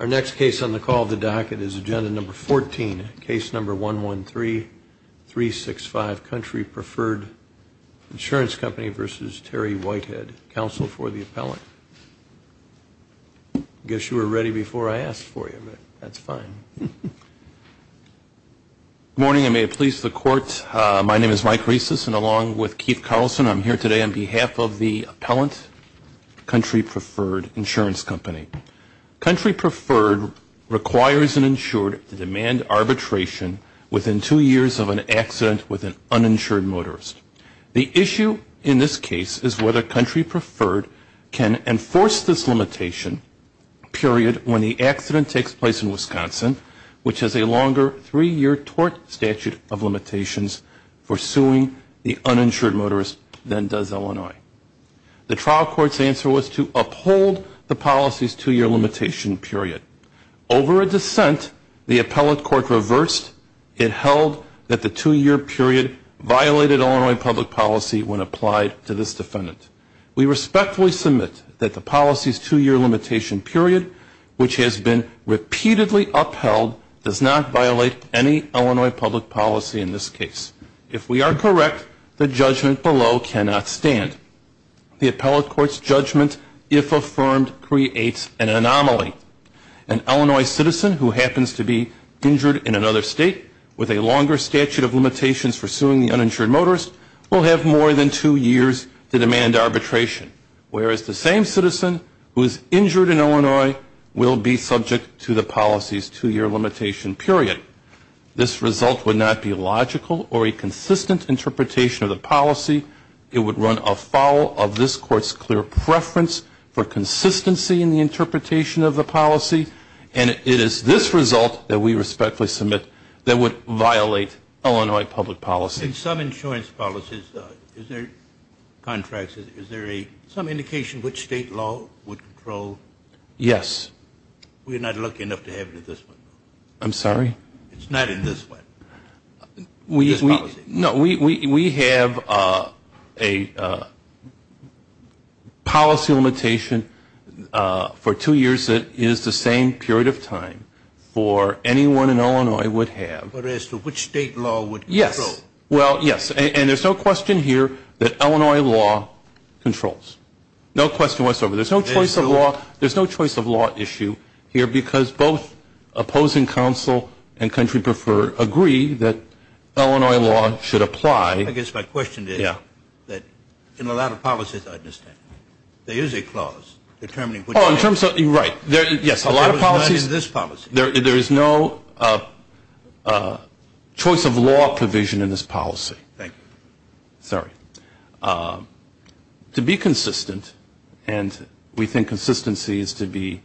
Our next case on the call of the docket is Agenda Number 14, Case Number 113365, Country Preferred Insurance Company v. Terry Whitehead, Counsel for the Appellant. I guess you were ready before I asked for you, but that's fine. Good morning, and may it please the Court. My name is Mike Rieses, and along with Keith Carlson, I'm here today on behalf of the insurance company. Country Preferred requires an insured to demand arbitration within two years of an accident with an uninsured motorist. The issue in this case is whether Country Preferred can enforce this limitation, period, when the accident takes place in Wisconsin, which has a longer three-year tort statute of limitations for suing the uninsured motorist than does Illinois. The trial court's answer was to uphold the policy's two-year limitation, period. Over a dissent, the appellate court reversed. It held that the two-year period violated Illinois public policy when applied to this defendant. We respectfully submit that the policy's two-year limitation, period, which has been repeatedly upheld, does not violate any Illinois public policy in this case. If we are correct, the judgment below cannot stand. The appellate court's judgment, if affirmed, creates an anomaly. An Illinois citizen who happens to be injured in another state with a longer statute of limitations for suing the uninsured motorist will have more than two years to demand arbitration, whereas the same citizen who is injured in Illinois will be subject to the policy's or a consistent interpretation of the policy. It would run afoul of this court's clear preference for consistency in the interpretation of the policy. And it is this result that we respectfully submit that would violate Illinois public policy. In some insurance policies, is there contracts, is there some indication which state law would control? Yes. We are not lucky enough to have it in this one. I'm sorry? It's not in this one. No, we have a policy limitation for two years that is the same period of time for anyone in Illinois would have. But as to which state law would control. Yes. Well, yes. And there's no question here that Illinois law controls. No question whatsoever. There's no choice of law. There's no choice of law issue here because both opposing counsel and country prefer agree that Illinois law should apply. I guess my question is that in a lot of policies I understand, there is a clause determining. Oh, in terms of, right. Yes, a lot of policies. There is not in this policy. There is no choice of law provision in this policy. Thank you. Sorry. To be consistent, and we think consistency is to be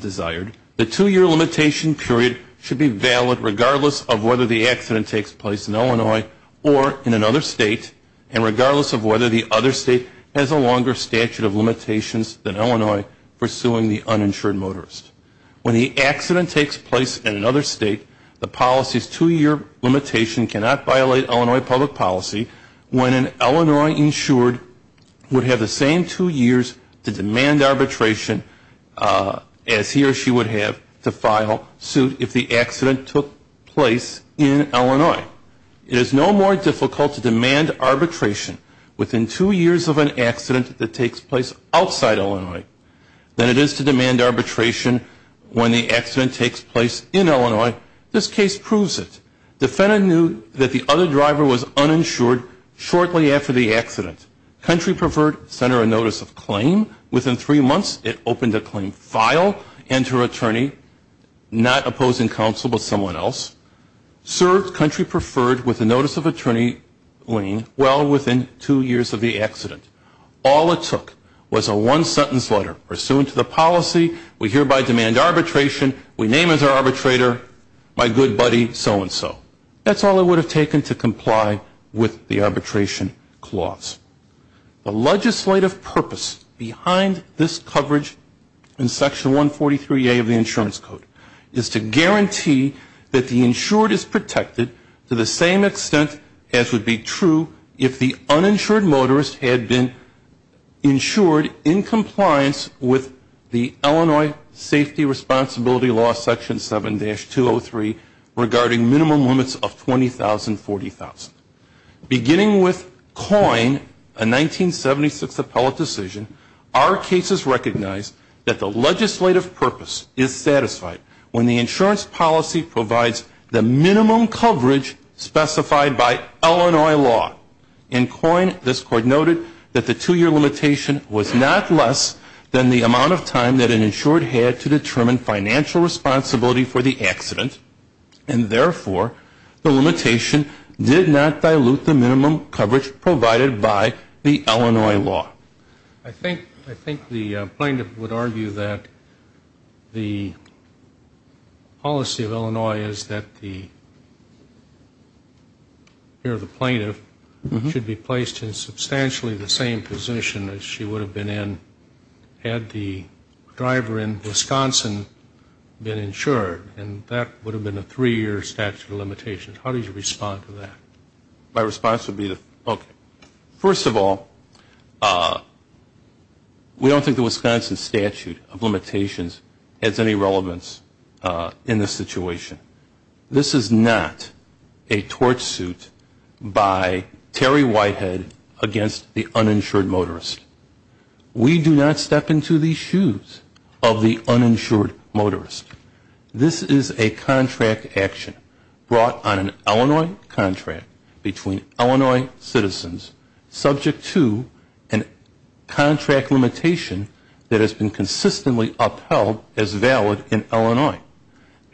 desired. The two-year limitation period should be valid regardless of whether the accident takes place in Illinois or in another state and regardless of whether the other state has a longer statute of limitations than Illinois pursuing the uninsured motorist. When the accident takes place in another state, the policy's two-year limitation cannot violate Illinois public policy when an Illinois insured would have the same two years to demand arbitration as he or she would have to file suit if the accident took place in Illinois. It is no more difficult to demand arbitration within two years of an accident that takes place outside Illinois than it is to demand arbitration when the accident takes place in Illinois. This case proves it. Defendant knew that the other driver was uninsured shortly after the accident. Country preferred sent her a notice of claim. Within three months, it opened a claim file and her attorney, not opposing counsel but someone else, served country preferred with a notice of attorney, well, within two years of the accident. All it took was a one-sentence letter. Pursuant to the policy, we hereby demand arbitration. We name as our arbitrator, my good buddy so-and-so. That's all it would have taken to comply with the arbitration clause. The legislative purpose behind this coverage in Section 143A of the Insurance Code is to guarantee that the insured is protected to the same extent as would be true if the uninsured motorist had been insured in compliance with the Illinois Safety Responsibility Law, Section 7-203, regarding minimum limits of 20,000, 40,000. Beginning with COIN, a 1976 appellate decision, our cases recognize that the legislative purpose is satisfied when the insurance policy provides the minimum coverage specified by Illinois law. In COIN, this Court noted that the two-year limitation was not less than the amount of time that an insured had to determine financial responsibility for the accident, and therefore, the limitation did not dilute the minimum coverage provided by the Illinois law. I think the plaintiff would argue that the policy of Illinois is that the plaintiff should be placed in substantially the same position as she would have been in had the driver in Wisconsin been insured, and that would have been a three-year statute of limitations. How do you respond to that? My response would be, okay. First of all, we don't think the Wisconsin statute of limitations has any relevance in this situation. This is not a torch suit by Terry Whitehead against the uninsured motorist. We do not step into the shoes of the uninsured motorist. This is a contract action brought on an Illinois contract between Illinois citizens, subject to a contract limitation that has been consistently upheld as valid in Illinois.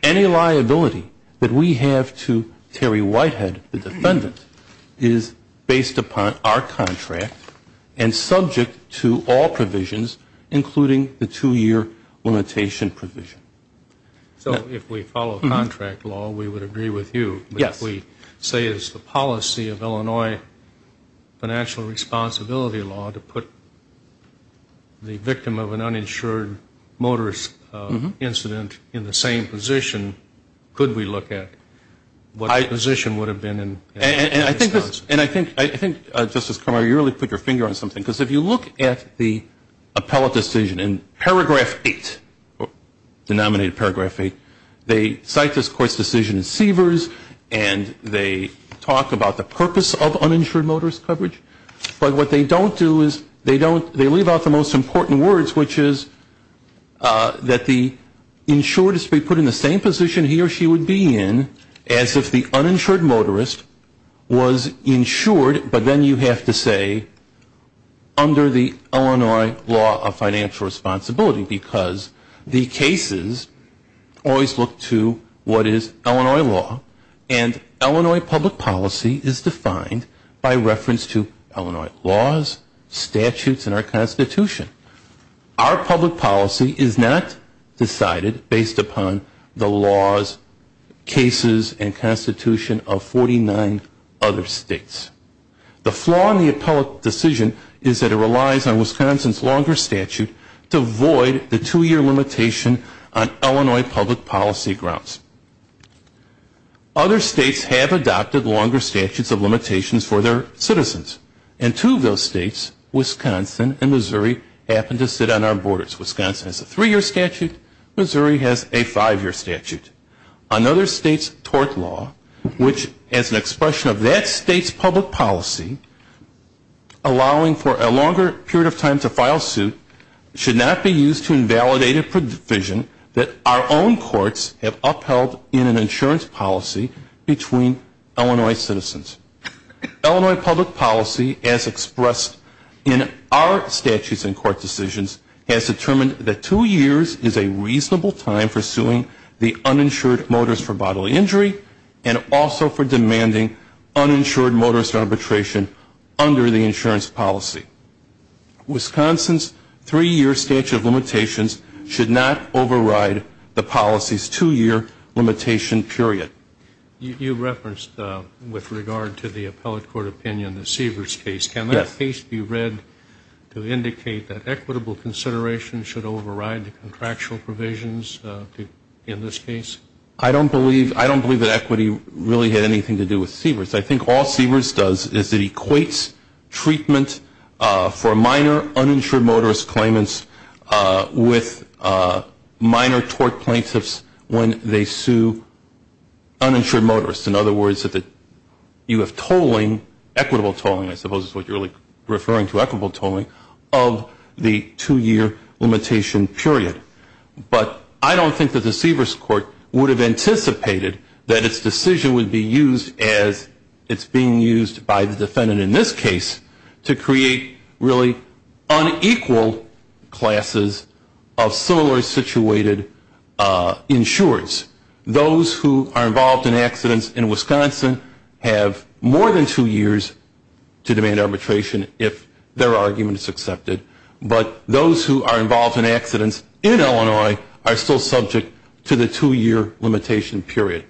Any liability that we have to Terry Whitehead, the defendant, is based upon our contract and subject to all provisions, including the two-year limitation provision. So if we follow contract law, we would agree with you. Yes. If we say it's the policy of Illinois financial responsibility law to put the victim of an uninsured motorist incident in the same position, could we look at what the position would have been in Wisconsin? And I think, Justice Conroy, you really put your finger on something. Because if you look at the appellate decision in paragraph 8, denominated paragraph 8, they cite this court's decision in Seavers, and they talk about the purpose of uninsured motorist coverage. But what they don't do is they leave out the most important words, which is that the insured is to be put in the same position he or she would be in as if the uninsured motorist was insured, but then you have to say under the Illinois law of financial responsibility, because the cases always look to what is Illinois law, and Illinois public policy is defined by reference to Illinois laws, statutes, and our Constitution. Our public policy is not decided based upon the laws, cases, and Constitution of 49 other states. The flaw in the appellate decision is that it relies on Wisconsin's longer statute to void the two-year limitation on Illinois public policy grounds. Other states have adopted longer statutes of limitations for their citizens, and two of those states, Wisconsin and Missouri, happen to sit on our borders. Wisconsin has a three-year statute, Missouri has a five-year statute. Another state's tort law, which has an expression of that state's public policy, allowing for a longer period of time to file suit should not be used to invalidate a provision that our own courts have upheld in an insurance policy between Illinois citizens. Illinois public policy, as expressed in our statutes and court decisions, has determined that two years is a reasonable time for suing the uninsured motorist for bodily injury and also for demanding uninsured motorist arbitration under the insurance policy. Wisconsin's three-year statute of limitations should not override the policy's two-year limitation period. You referenced, with regard to the appellate court opinion, the Seavers case. Can that case be read to indicate that equitable consideration should override the contractual provisions in this case? I don't believe that equity really had anything to do with Seavers. I think all Seavers does is it equates treatment for minor uninsured motorist claimants with minor tort plaintiffs when they sue uninsured motorists. In other words, you have tolling, equitable tolling, I suppose is what you're referring to, equitable tolling of the two-year limitation period. But I don't think that the Seavers court would have anticipated that its decision would be used as it's being used by the defendant in this case to create really unequal classes of similarly situated insurers. Those who are involved in accidents in Wisconsin have more than two years to demand arbitration if their argument is accepted. But those who are involved in accidents in Illinois are still subject to the two-year limitation period.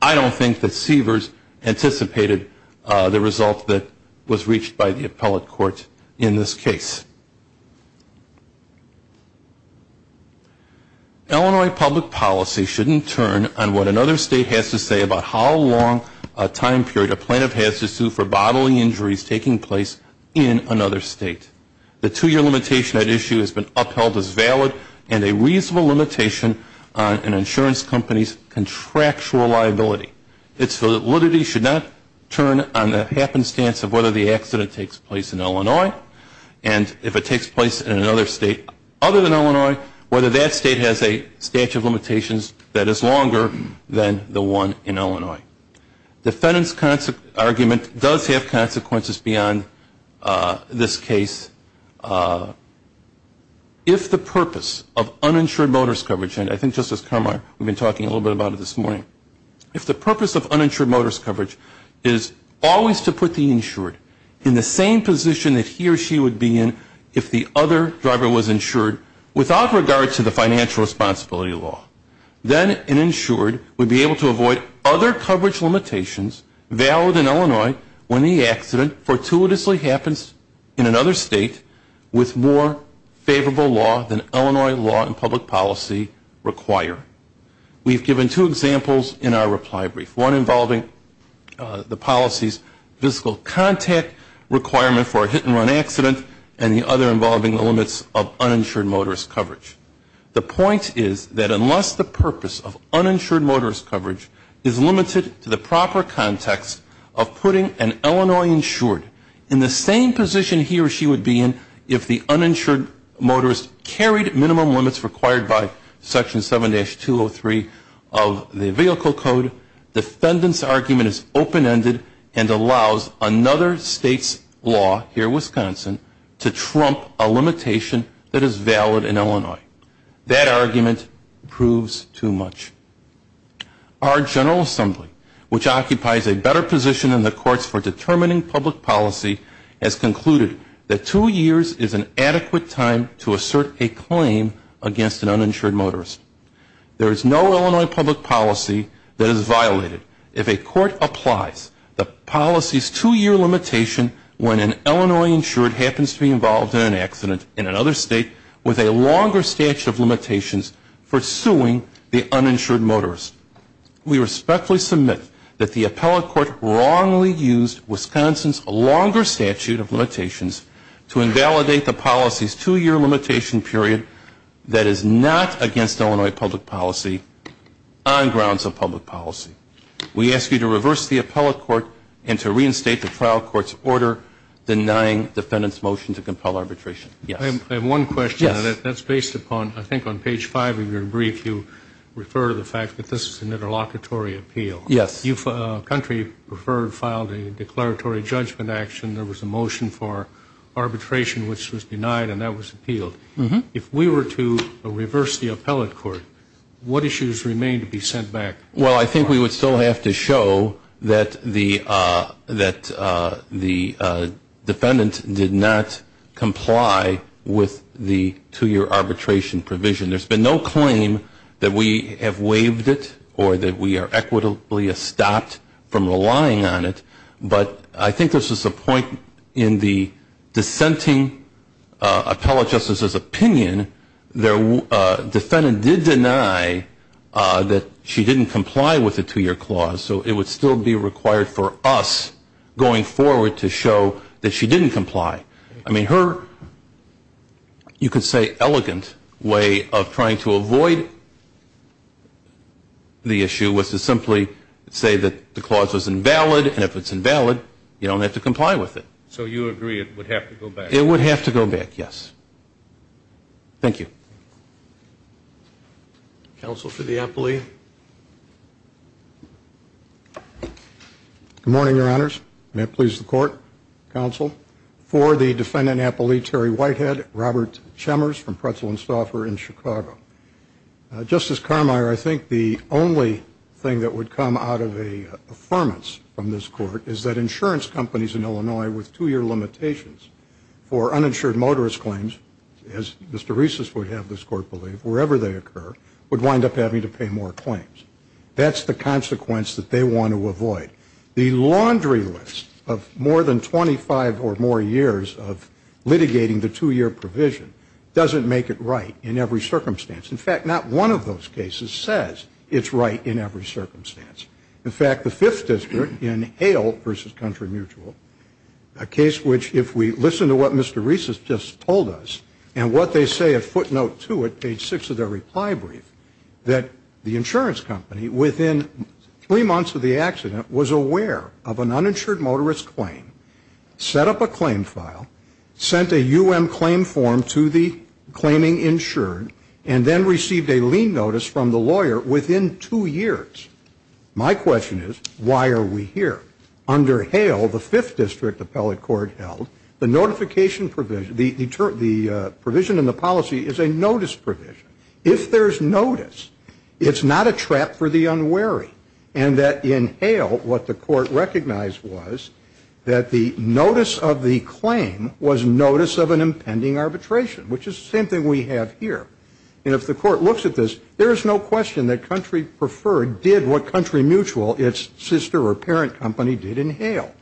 I don't think that Seavers anticipated the result that was reached by the appellate court in this case. Illinois public policy shouldn't turn on what another state has to say about how long a time period a plaintiff has to sue for bodily injuries taking place in another state. The two-year limitation at issue has been upheld as valid and a reasonable limitation on an insurance company's contractual liability. Its validity should not turn on the happenstance of whether the accident takes place in Illinois and if it takes place in another state other than Illinois, whether that state has a statute of limitations that is longer than the one in Illinois. Defendant's argument does have consequences beyond this case. If the purpose of uninsured motorist coverage, and I think Justice Carmar we've been talking a little bit about it this morning, if the purpose of uninsured motorist coverage is always to put the insured in the same position that he or she would be in if the other driver was insured without regard to the financial responsibility law, then an insured would be able to avoid other coverage limitations valid in Illinois when the accident fortuitously happens in another state with more favorable law than Illinois law and public policy require. We've given two examples in our reply brief. One involving the policy's fiscal contact requirement for a hit-and-run accident and the other involving the limits of uninsured motorist coverage. The point is that unless the purpose of uninsured motorist coverage is limited to the proper context of putting an Illinois insured in the same position he or she would be in if the uninsured motorist carried minimum limits required by Section 7-203 of the Vehicle Code, defendant's argument is open-ended and allows another state's law here in Wisconsin to trump a limitation that is valid in Illinois. That argument proves too much. Our General Assembly, which occupies a better position in the courts for determining public policy, has concluded that two years is an adequate time to assert a claim against an uninsured motorist. There is no Illinois public policy that is violated if a court applies the policy's two-year limitation when an Illinois insured happens to be involved in an accident in another state with a longer statute of limitations for suing the uninsured motorist. We respectfully submit that the appellate court wrongly used Wisconsin's longer statute of limitations to invalidate the policy's two-year limitation period that is not against Illinois public policy on grounds of public policy. We ask you to reverse the appellate court and to reinstate the trial court's order denying defendant's motion to compel arbitration. Yes. I have one question. Yes. That's based upon, I think on page 5 of your brief, you refer to the fact that this is an interlocutory appeal. Yes. A country preferred filed a declaratory judgment action. There was a motion for arbitration, which was denied, and that was appealed. If we were to reverse the appellate court, what issues remain to be sent back? Well, I think we would still have to show that the defendant did not comply with the two-year arbitration provision. There's been no claim that we have waived it or that we are equitably stopped from relying on it, but I think this is a point in the dissenting appellate justice's opinion. Defendant did deny that she didn't comply with the two-year clause, so it would still be required for us going forward to show that she didn't comply. I mean, her, you could say, elegant way of trying to avoid the issue was to simply say that the clause was invalid, and if it's invalid, you don't have to comply with it. So you agree it would have to go back? Yes. Thank you. Counsel for the appellee. Good morning, Your Honors. May it please the court, counsel. For the defendant appellee, Terry Whitehead, Robert Chemmers from Pretzel and Stauffer in Chicago. Justice Carmier, I think the only thing that would come out of an affirmance from this court is that insurance companies in Illinois with two-year limitations for uninsured motorist claims, as Mr. Reese would have this court believe, wherever they occur, would wind up having to pay more claims. That's the consequence that they want to avoid. The laundry list of more than 25 or more years of litigating the two-year provision doesn't make it right in every circumstance. In fact, not one of those cases says it's right in every circumstance. In fact, the Fifth District in Hale v. Country Mutual, a case which if we listen to what Mr. Reese has just told us and what they say at footnote two at page six of their reply brief, that the insurance company within three months of the accident was aware of an uninsured motorist claim, set up a claim file, sent a U.M. claim form to the claiming insured, and then received a lien notice from the lawyer within two years. My question is, why are we here? Under Hale, the Fifth District appellate court held, the notification provision, the provision in the policy is a notice provision. If there's notice, it's not a trap for the unwary. And that in Hale, what the court recognized was that the notice of the claim was notice of an impending arbitration, which is the same thing we have here. And if the court looks at this, there is no question that Country Preferred did what Country Mutual, its sister or parent company, did in Hale.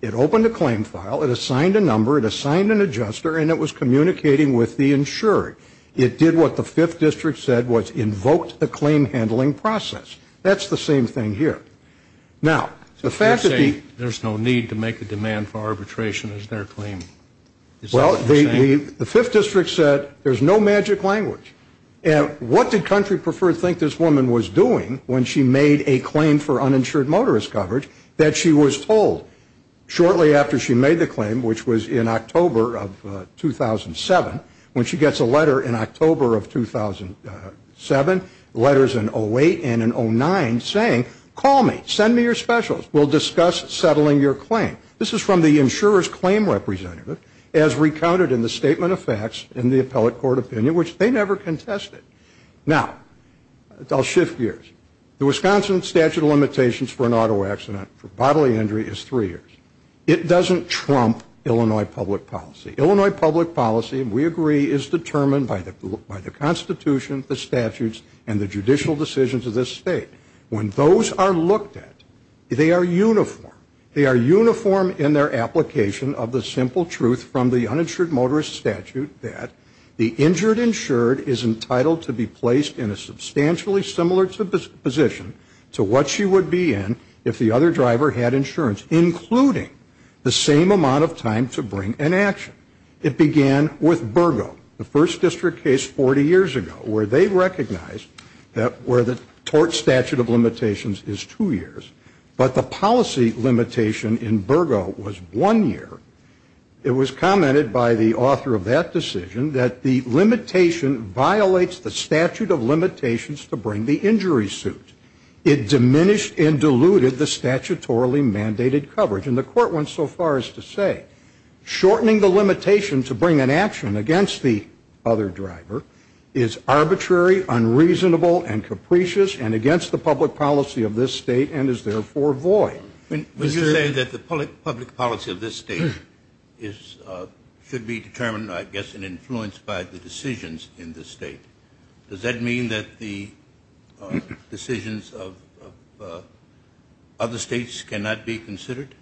It opened a claim file. It assigned a number. It assigned an adjuster. And it was communicating with the insured. It did what the Fifth District said was invoked the claim handling process. That's the same thing here. Now, the fact that the ‑‑ You're saying there's no need to make a demand for arbitration as their claim. Well, the Fifth District said there's no magic language. And what did Country Preferred think this woman was doing when she made a claim for uninsured motorist coverage that she was told shortly after she made the claim, which was in October of 2007, when she gets a letter in October of 2007, letters in 08 and in 09, saying, call me. Send me your specials. We'll discuss settling your claim. This is from the insurer's claim representative, as recounted in the statement of facts in the appellate court opinion, which they never contested. Now, I'll shift gears. The Wisconsin statute of limitations for an auto accident for bodily injury is three years. It doesn't trump Illinois public policy. Illinois public policy, we agree, is determined by the Constitution, the statutes, and the judicial decisions of this state. When those are looked at, they are uniform. They are uniform in their application of the simple truth from the uninsured motorist statute that the injured insured is entitled to be placed in a substantially similar position to what she would be in if the other driver had insurance, including the same amount of time to bring an action. It began with Burgo, the First District case 40 years ago, where they recognized that where the tort statute of limitations is two years, but the policy limitation in Burgo was one year, it was commented by the author of that decision that the limitation violates the statute of limitations to bring the injury suit. It diminished and diluted the statutorily mandated coverage. And the court went so far as to say shortening the limitation to bring an action against the other driver is arbitrary, unreasonable, and capricious, and against the public policy of this state and is therefore void. You're saying that the public policy of this state should be determined, I guess, and influenced by the decisions in this state. Does that mean that the decisions of other states cannot be considered?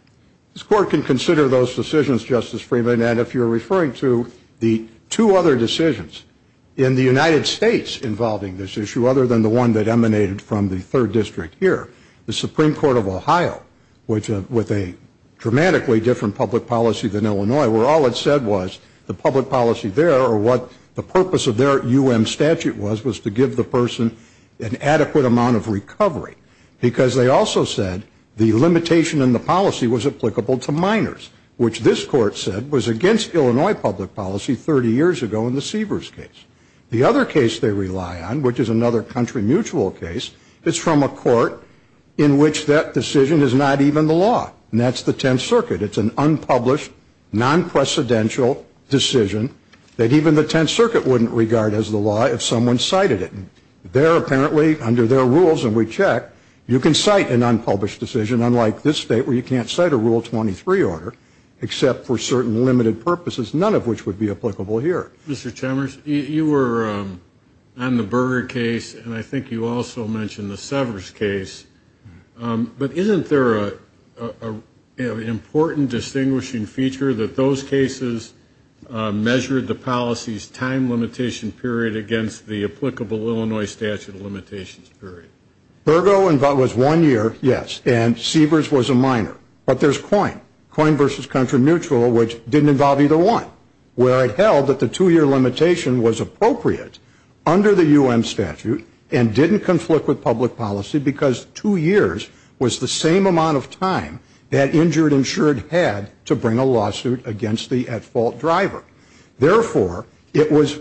This court can consider those decisions, Justice Freeman, and if you're referring to the two other decisions in the United States involving this issue, other than the one that emanated from the Third District here, the Supreme Court of Ohio, which with a dramatically different public policy than Illinois, where all it said was the public policy there or what the purpose of their U.M. statute was, was to give the person an adequate amount of recovery. Because they also said the limitation in the policy was applicable to minors, which this court said was against Illinois public policy 30 years ago in the Seavers case. The other case they rely on, which is another country mutual case, is from a court in which that decision is not even the law, and that's the Tenth Circuit. It's an unpublished, non-precedential decision that even the Tenth Circuit wouldn't regard as the law if someone cited it. They're apparently under their rules, and we check. You can cite an unpublished decision, unlike this state where you can't cite a Rule 23 order, except for certain limited purposes, none of which would be applicable here. Mr. Chalmers, you were on the Berger case, and I think you also mentioned the Severs case. But isn't there an important distinguishing feature that those cases measured the policy's time limitation period against the applicable Illinois statute of limitations period? Berger was one year, yes, and Seavers was a minor. But there's Coyne, Coyne v. Country Mutual, which didn't involve either one, where it held that the two-year limitation was appropriate under the U.N. statute and didn't conflict with public policy because two years was the same amount of time that injured insured had to bring a lawsuit against the at-fault driver. Therefore, it was,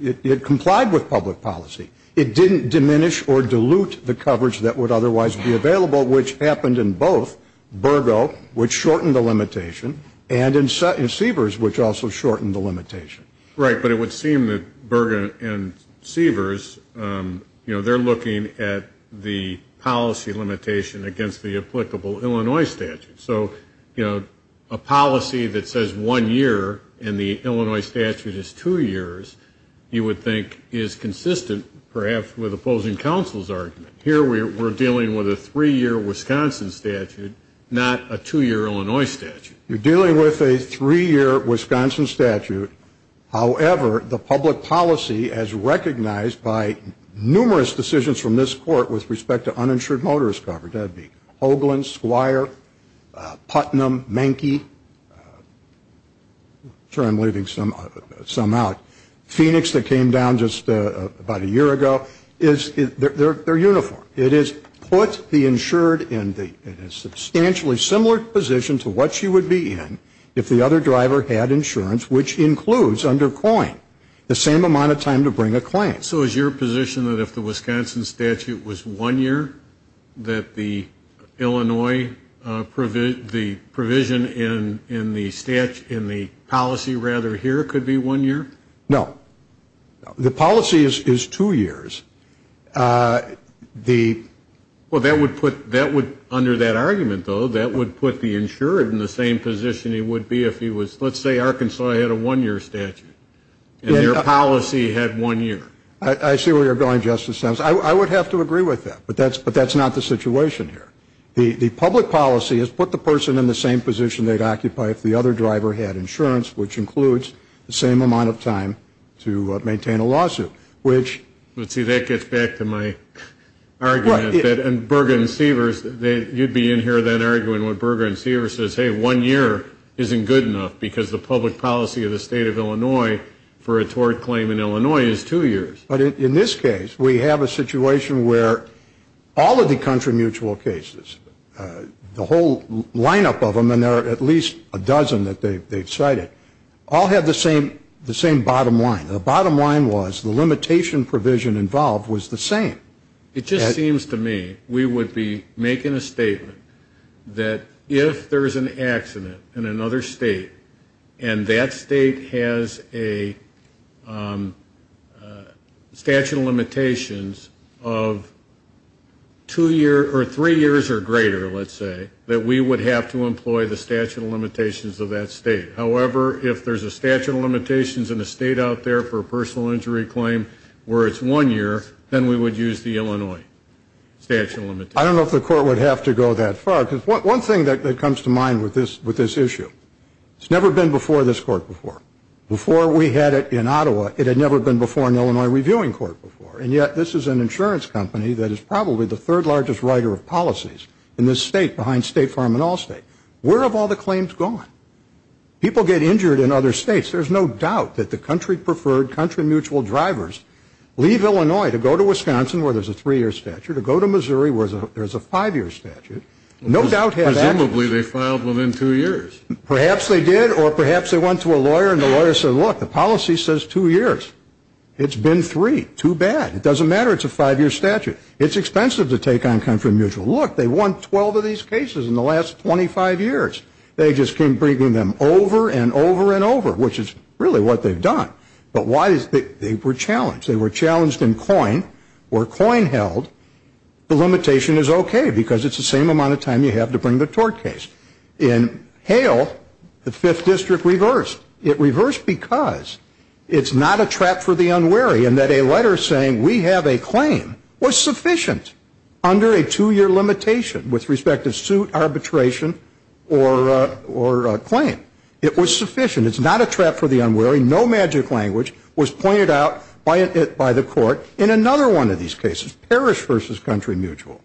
it complied with public policy. It didn't diminish or dilute the coverage that would otherwise be available, which happened in both Berger, which shortened the limitation, and in Seavers, which also shortened the limitation. Right, but it would seem that Berger and Seavers, you know, they're looking at the policy limitation against the applicable Illinois statute. So, you know, a policy that says one year in the Illinois statute is two years, you would think is consistent perhaps with opposing counsel's argument. Here we're dealing with a three-year Wisconsin statute, not a two-year Illinois statute. You're dealing with a three-year Wisconsin statute. However, the public policy as recognized by numerous decisions from this court with respect to uninsured motorist coverage, that would be Hoagland, Squire, Putnam, Menke, I'm sure I'm leaving some out, Phoenix that came down just about a year ago, they're uniform. It is put the insured in a substantially similar position to what she would be in if the other driver had insurance, which includes under COIN the same amount of time to bring a client. So is your position that if the Wisconsin statute was one year, that the Illinois provision in the policy rather here could be one year? No. The policy is two years. Well, under that argument, though, that would put the insured in the same position it would be if he was, let's say Arkansas had a one-year statute and their policy had one year. I see where you're going, Justice Stems. I would have to agree with that, but that's not the situation here. The public policy has put the person in the same position they'd occupy if the other driver had insurance, which includes the same amount of time to maintain a lawsuit. Let's see, that gets back to my argument. And Berger and Seavers, you'd be in here then arguing what Berger and Seavers says, hey, one year isn't good enough because the public policy of the state of Illinois for a tort claim in Illinois is two years. But in this case, we have a situation where all of the country mutual cases, the whole lineup of them, and there are at least a dozen that they've cited, all have the same bottom line. The bottom line was the limitation provision involved was the same. It just seems to me we would be making a statement that if there is an accident in another state and that state has a statute of limitations of two years or three years or greater, let's say, that we would have to employ the statute of limitations of that state. However, if there's a statute of limitations in a state out there for a personal injury claim where it's one year, then we would use the Illinois statute of limitations. I don't know if the court would have to go that far because one thing that comes to mind with this issue, it's never been before this court before. Before we had it in Ottawa, it had never been before an Illinois reviewing court before. And yet this is an insurance company that is probably the third largest writer of policies in this state behind State Farm and Allstate. Where have all the claims gone? People get injured in other states. There's no doubt that the country preferred country mutual drivers leave Illinois to go to Wisconsin where there's a three-year statute or go to Missouri where there's a five-year statute. No doubt have accidents. Presumably they filed within two years. Perhaps they did or perhaps they went to a lawyer and the lawyer said, look, the policy says two years. It's been three. Too bad. It doesn't matter. It's a five-year statute. It's expensive to take on country mutual. Look, they won 12 of these cases in the last 25 years. They just keep bringing them over and over and over, which is really what they've done. But why is it they were challenged? They were challenged in Coyne where Coyne held the limitation is okay because it's the same amount of time you have to bring the tort case. In Hale, the Fifth District reversed. It reversed because it's not a trap for the unwary and that a letter saying we have a claim was sufficient under a two-year limitation with respect to suit, arbitration, or claim. It was sufficient. It's not a trap for the unwary. No magic language was pointed out by the court in another one of these cases, parish versus country mutual.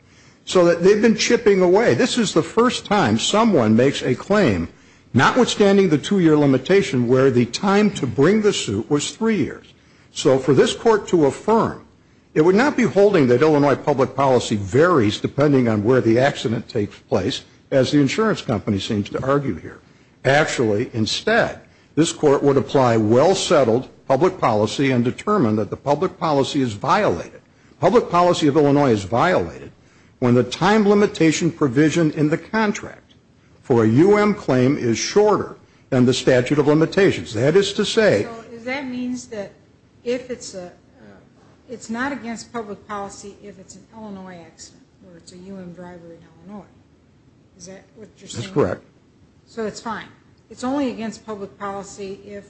So they've been chipping away. This is the first time someone makes a claim notwithstanding the two-year limitation where the time to bring the suit was three years. So for this court to affirm, it would not be holding that Illinois public policy varies depending on where the accident takes place, as the insurance company seems to argue here. Actually, instead, this court would apply well-settled public policy and determine that the public policy is violated. When the time limitation provision in the contract for a U.M. claim is shorter than the statute of limitations. That is to say. So that means that if it's a, it's not against public policy if it's an Illinois accident or it's a U.M. driver in Illinois. Is that what you're saying? That's correct. So it's fine. It's only against public policy if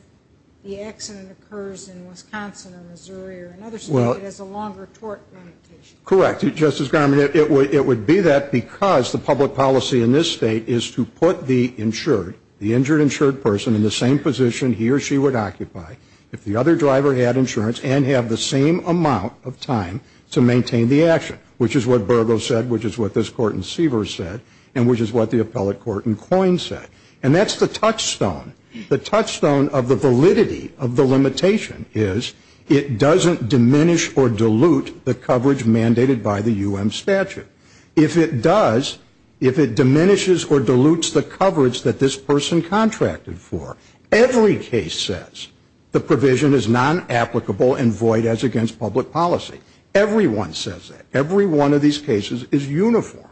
the accident occurs in Wisconsin or Missouri or another state that has a longer tort limitation. Correct. Justice Garmon, it would be that because the public policy in this state is to put the insured, the injured insured person in the same position he or she would occupy if the other driver had insurance and have the same amount of time to maintain the action. Which is what Burgo said, which is what this court in Seavers said, and which is what the appellate court in Coyne said. And that's the touchstone. The touchstone of the validity of the limitation is it doesn't diminish or dilute the coverage mandated by the U.M. statute. If it does, if it diminishes or dilutes the coverage that this person contracted for, every case says the provision is non-applicable and void as against public policy. Everyone says that. Every one of these cases is uniform.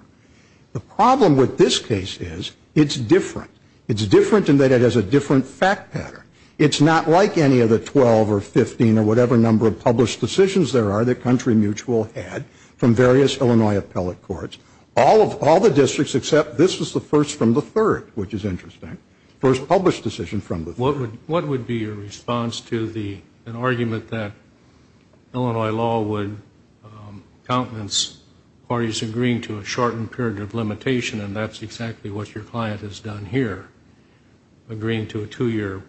The problem with this case is it's different. It's different in that it has a different fact pattern. It's not like any of the 12 or 15 or whatever number of published decisions there are that Country Mutual had from various Illinois appellate courts. All the districts except this was the first from the third, which is interesting. First published decision from the third. What would be your response to the argument that Illinois law would countenance parties agreeing to a shortened period of agreeing to a two-year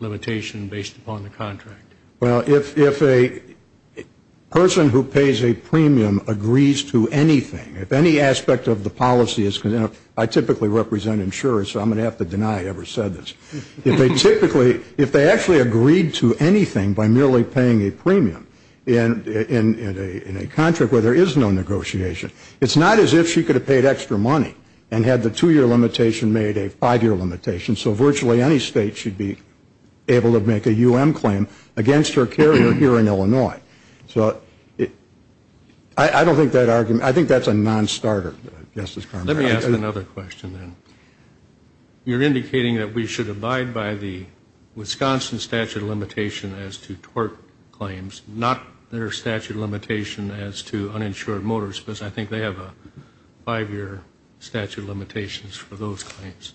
limitation based upon the contract? Well, if a person who pays a premium agrees to anything, if any aspect of the policy is, you know, I typically represent insurers, so I'm going to have to deny I ever said this. If they typically, if they actually agreed to anything by merely paying a premium in a contract where there is no It's not as if she could have paid extra money and had the two-year limitation made a five-year limitation, so virtually any state should be able to make a U.M. claim against her carrier here in Illinois. So I don't think that argument, I think that's a nonstarter. Let me ask another question then. You're indicating that we should abide by the Wisconsin statute of limitation as to tort claims, not their statute of limitation as to uninsured motorists, because I think they have a five-year statute of limitations for those claims.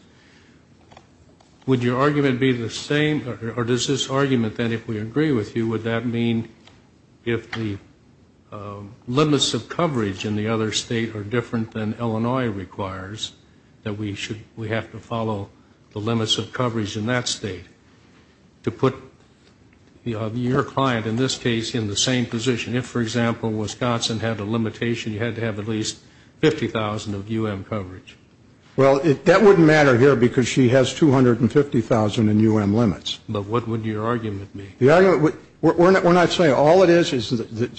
Would your argument be the same, or does this argument then, if we agree with you, would that mean if the limits of coverage in the other state are different than Illinois requires, that we have to follow the limits of coverage in that state? To put your client, in this case, in the same position. If, for example, Wisconsin had a limitation, you had to have at least 50,000 of U.M. coverage. Well, that wouldn't matter here because she has 250,000 in U.M. limits. But what would your argument be? The argument, we're not saying all it is is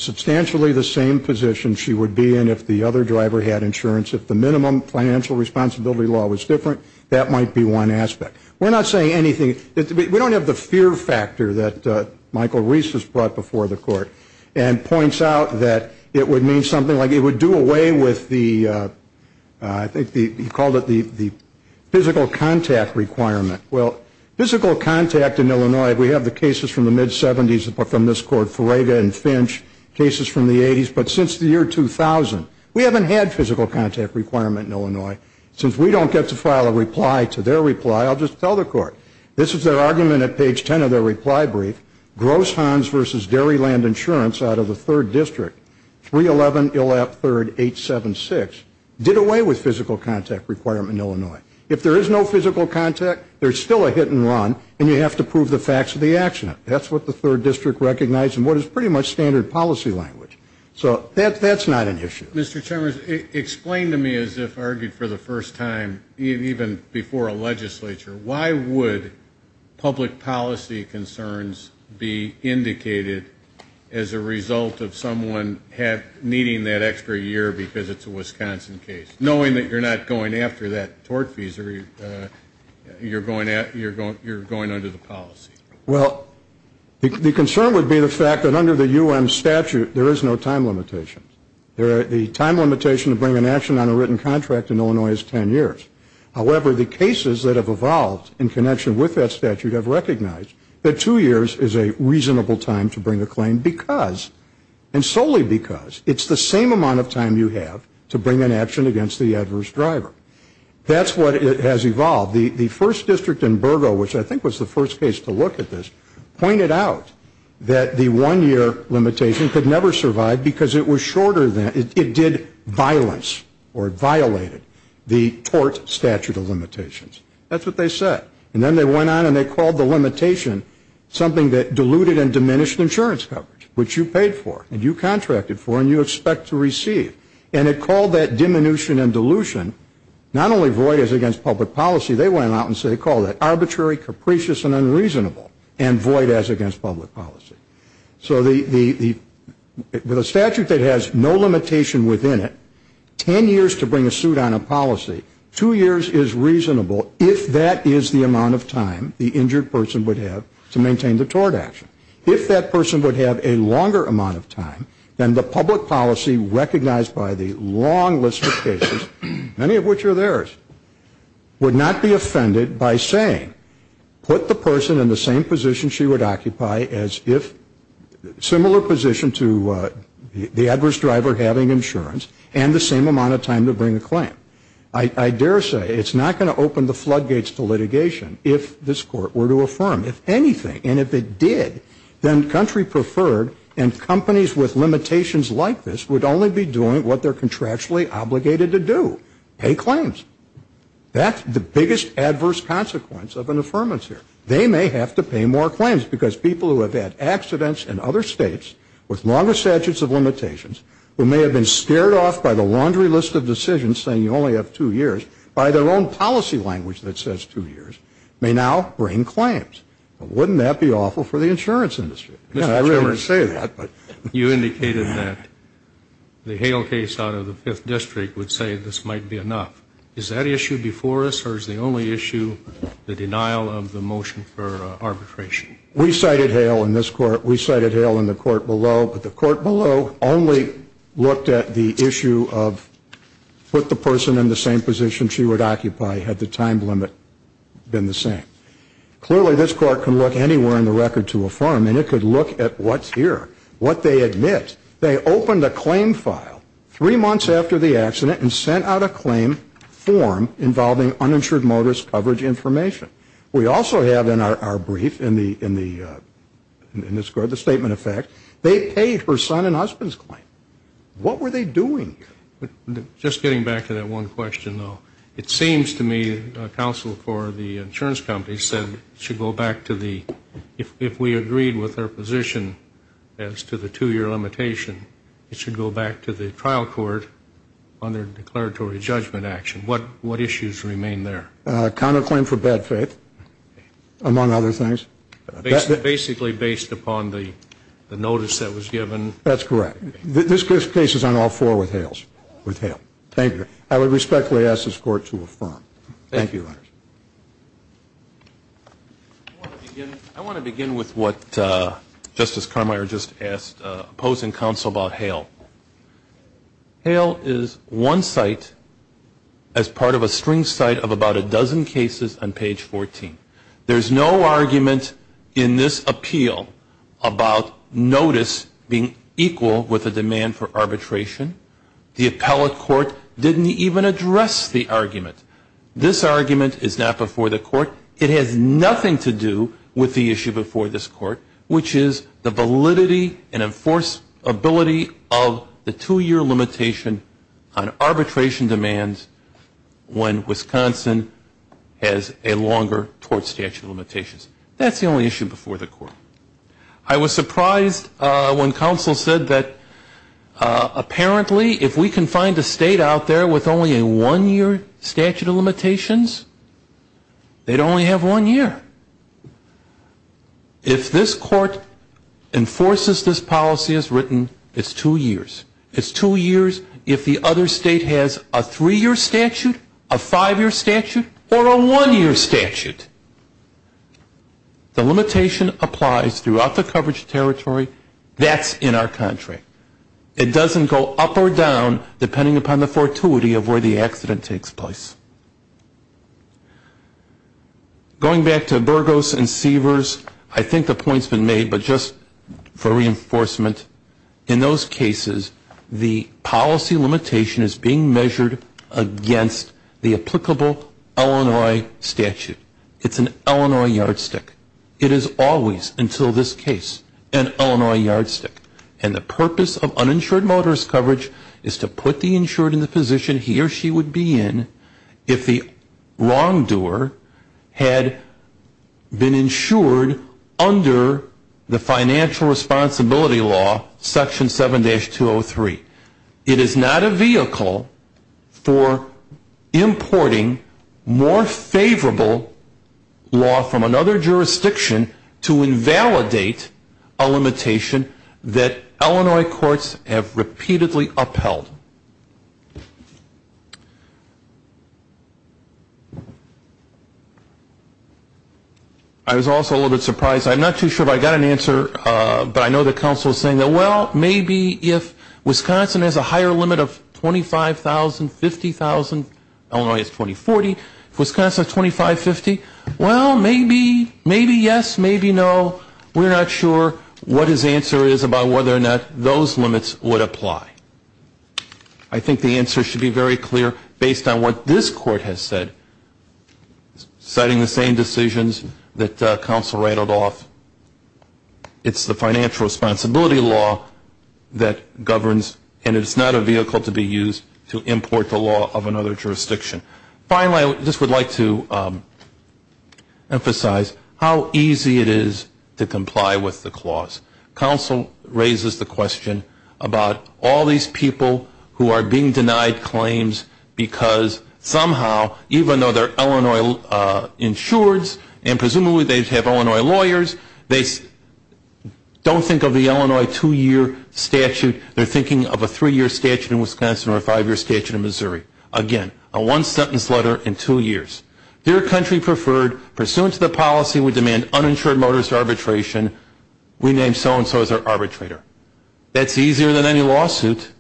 substantially the same position she would be in if the other driver had insurance. If the minimum financial responsibility law was different, that might be one aspect. We're not saying anything. We don't have the fear factor that Michael Reese has brought before the court and points out that it would mean something like it would do away with the, I think he called it the physical contact requirement. Well, physical contact in Illinois, we have the cases from the mid-'70s from this court, Ferega and Finch, cases from the 80s. But since the year 2000, we haven't had physical contact requirement in Illinois. Since we don't get to file a reply to their reply, I'll just tell the court. This is their argument at page 10 of their reply brief. Gross Hans versus Dairyland Insurance out of the 3rd District, 311 Illap 3rd 876, did away with physical contact requirement in Illinois. If there is no physical contact, there's still a hit and run, and you have to prove the facts of the accident. That's what the 3rd District recognized and what is pretty much standard policy language. So that's not an issue. Mr. Chalmers, explain to me, as if argued for the first time, even before a legislature, why would public policy concerns be indicated as a result of someone needing that extra year because it's a Wisconsin case, knowing that you're not going after that tort fee, you're going under the policy? Well, the concern would be the fact that under the U.M. statute, there is no time limitation. The time limitation to bring an action on a written contract in Illinois is 10 years. However, the cases that have evolved in connection with that statute have recognized that two years is a reasonable time to bring a claim because, and solely because, it's the same amount of time you have to bring an action against the adverse driver. That's what has evolved. The 1st District in Burgo, which I think was the first case to look at this, pointed out that the one-year limitation could never survive because it did violence or violated the tort statute of limitations. That's what they said. And then they went on and they called the limitation something that diluted and diminished insurance coverage, which you paid for and you contracted for and you expect to receive. And it called that diminution and dilution not only void as against public policy, they went out and said they called it arbitrary, capricious, and unreasonable, and void as against public policy. So with a statute that has no limitation within it, 10 years to bring a suit on a policy, two years is reasonable if that is the amount of time the injured person would have to maintain the tort action. If that person would have a longer amount of time, then the public policy recognized by the long list of cases, many of which are theirs, would not be offended by saying put the person in the same position she would occupy as if similar position to the adverse driver having insurance and the same amount of time to bring a claim. I dare say it's not going to open the floodgates to litigation if this court were to affirm. If anything, and if it did, then country preferred and companies with limitations like this would only be doing what they're contractually obligated to do, pay claims. That's the biggest adverse consequence of an affirmance here. They may have to pay more claims because people who have had accidents in other states with longer statutes of limitations who may have been scared off by the laundry list of decisions, saying you only have two years, by their own policy language that says two years, may now bring claims. Wouldn't that be awful for the insurance industry? You indicated that the Hale case out of the 5th District would say this might be enough. Is that issue before us or is the only issue the denial of the motion for arbitration? We cited Hale in this court. We cited Hale in the court below. But the court below only looked at the issue of put the person in the same position she would occupy had the time limit been the same. Clearly this court can look anywhere in the record to affirm and it could look at what's here, what they admit. They opened a claim file three months after the accident and sent out a claim form involving uninsured motorist coverage information. We also have in our brief in this court the statement of fact. They paid her son-in-law's claim. What were they doing? Just getting back to that one question, though. It seems to me counsel for the insurance company said it should go back to the, if we agreed with her position as to the two-year limitation, it should go back to the trial court under declaratory judgment action. What issues remain there? Counterclaim for bad faith, among other things. Basically based upon the notice that was given. That's correct. This case is on all four with Hale. Thank you. I would respectfully ask this court to affirm. Thank you. I want to begin with what Justice Carmeier just asked opposing counsel about Hale. Hale is one site as part of a string site of about a dozen cases on page 14. There's no argument in this appeal about notice being equal with a demand for arbitration. The appellate court didn't even address the argument. This argument is not before the court. It has nothing to do with the issue before this court, which is the validity and enforceability of the two-year limitation on arbitration demands when Wisconsin has a longer tort statute of limitations. That's the only issue before the court. I was surprised when counsel said that apparently if we can find a state out there with only a one-year statute of limitations, they'd only have one year. If this court enforces this policy as written, it's two years. It's two years if the other state has a three-year statute, a five-year statute, or a one-year statute. The limitation applies throughout the coverage territory. That's in our contract. It doesn't go up or down depending upon the fortuity of where the accident takes place. Going back to Burgos and Seavers, I think the point's been made, but just for reinforcement, in those cases the policy limitation is being measured against the applicable Illinois statute. It's an Illinois yardstick. It is always, until this case, an Illinois yardstick. And the purpose of uninsured motorist coverage is to put the insured in the position he or she would be in if the wrongdoer had been insured under the financial responsibility law, Section 7-203. It is not a vehicle for importing more favorable law from another jurisdiction to invalidate a limitation that Illinois courts have repeatedly upheld. I was also a little bit surprised. I'm not too sure, but I got an answer. But I know the counsel is saying that, well, maybe if Wisconsin has a higher limit of 25,000, 50,000, Illinois is 2040, if Wisconsin is 2550, well, maybe, maybe yes, maybe no. We're not sure what his answer is about whether or not those limits would apply. I think the answer should be very clear based on what this Court has said, citing the same decisions that counsel rattled off. It's the financial responsibility law that governs, and it's not a vehicle to be used to import the law of another jurisdiction. Finally, I just would like to emphasize how easy it is to comply with the clause. Counsel raises the question about all these people who are being denied claims because somehow, even though they're Illinois insureds and presumably they have Illinois lawyers, they don't think of the Illinois two-year statute. They're thinking of a three-year statute in Wisconsin or a five-year statute in Missouri. Again, a one-sentence letter in two years. Dear country preferred, pursuant to the policy we demand uninsured motorist arbitration, we name so-and-so as our arbitrator. That's easier than any lawsuit.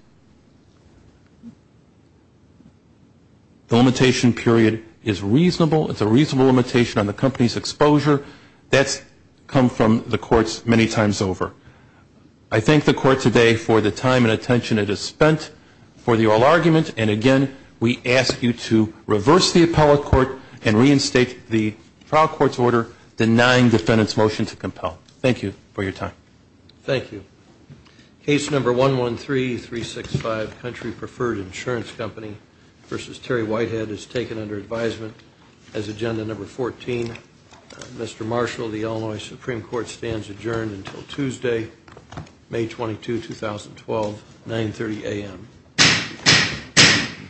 The limitation period is reasonable. It's a reasonable limitation on the company's exposure. That's come from the courts many times over. I thank the Court today for the time and attention it has spent for the oral argument, and again, we ask you to reverse the appellate court and reinstate the trial court's order denying defendant's motion to compel. Thank you for your time. Thank you. Case number 113365, Country Preferred Insurance Company v. Terry Whitehead, is taken under advisement as agenda number 14. Mr. Marshall, the Illinois Supreme Court stands adjourned until Tuesday, May 22, 2012, 930 a.m. Thank you.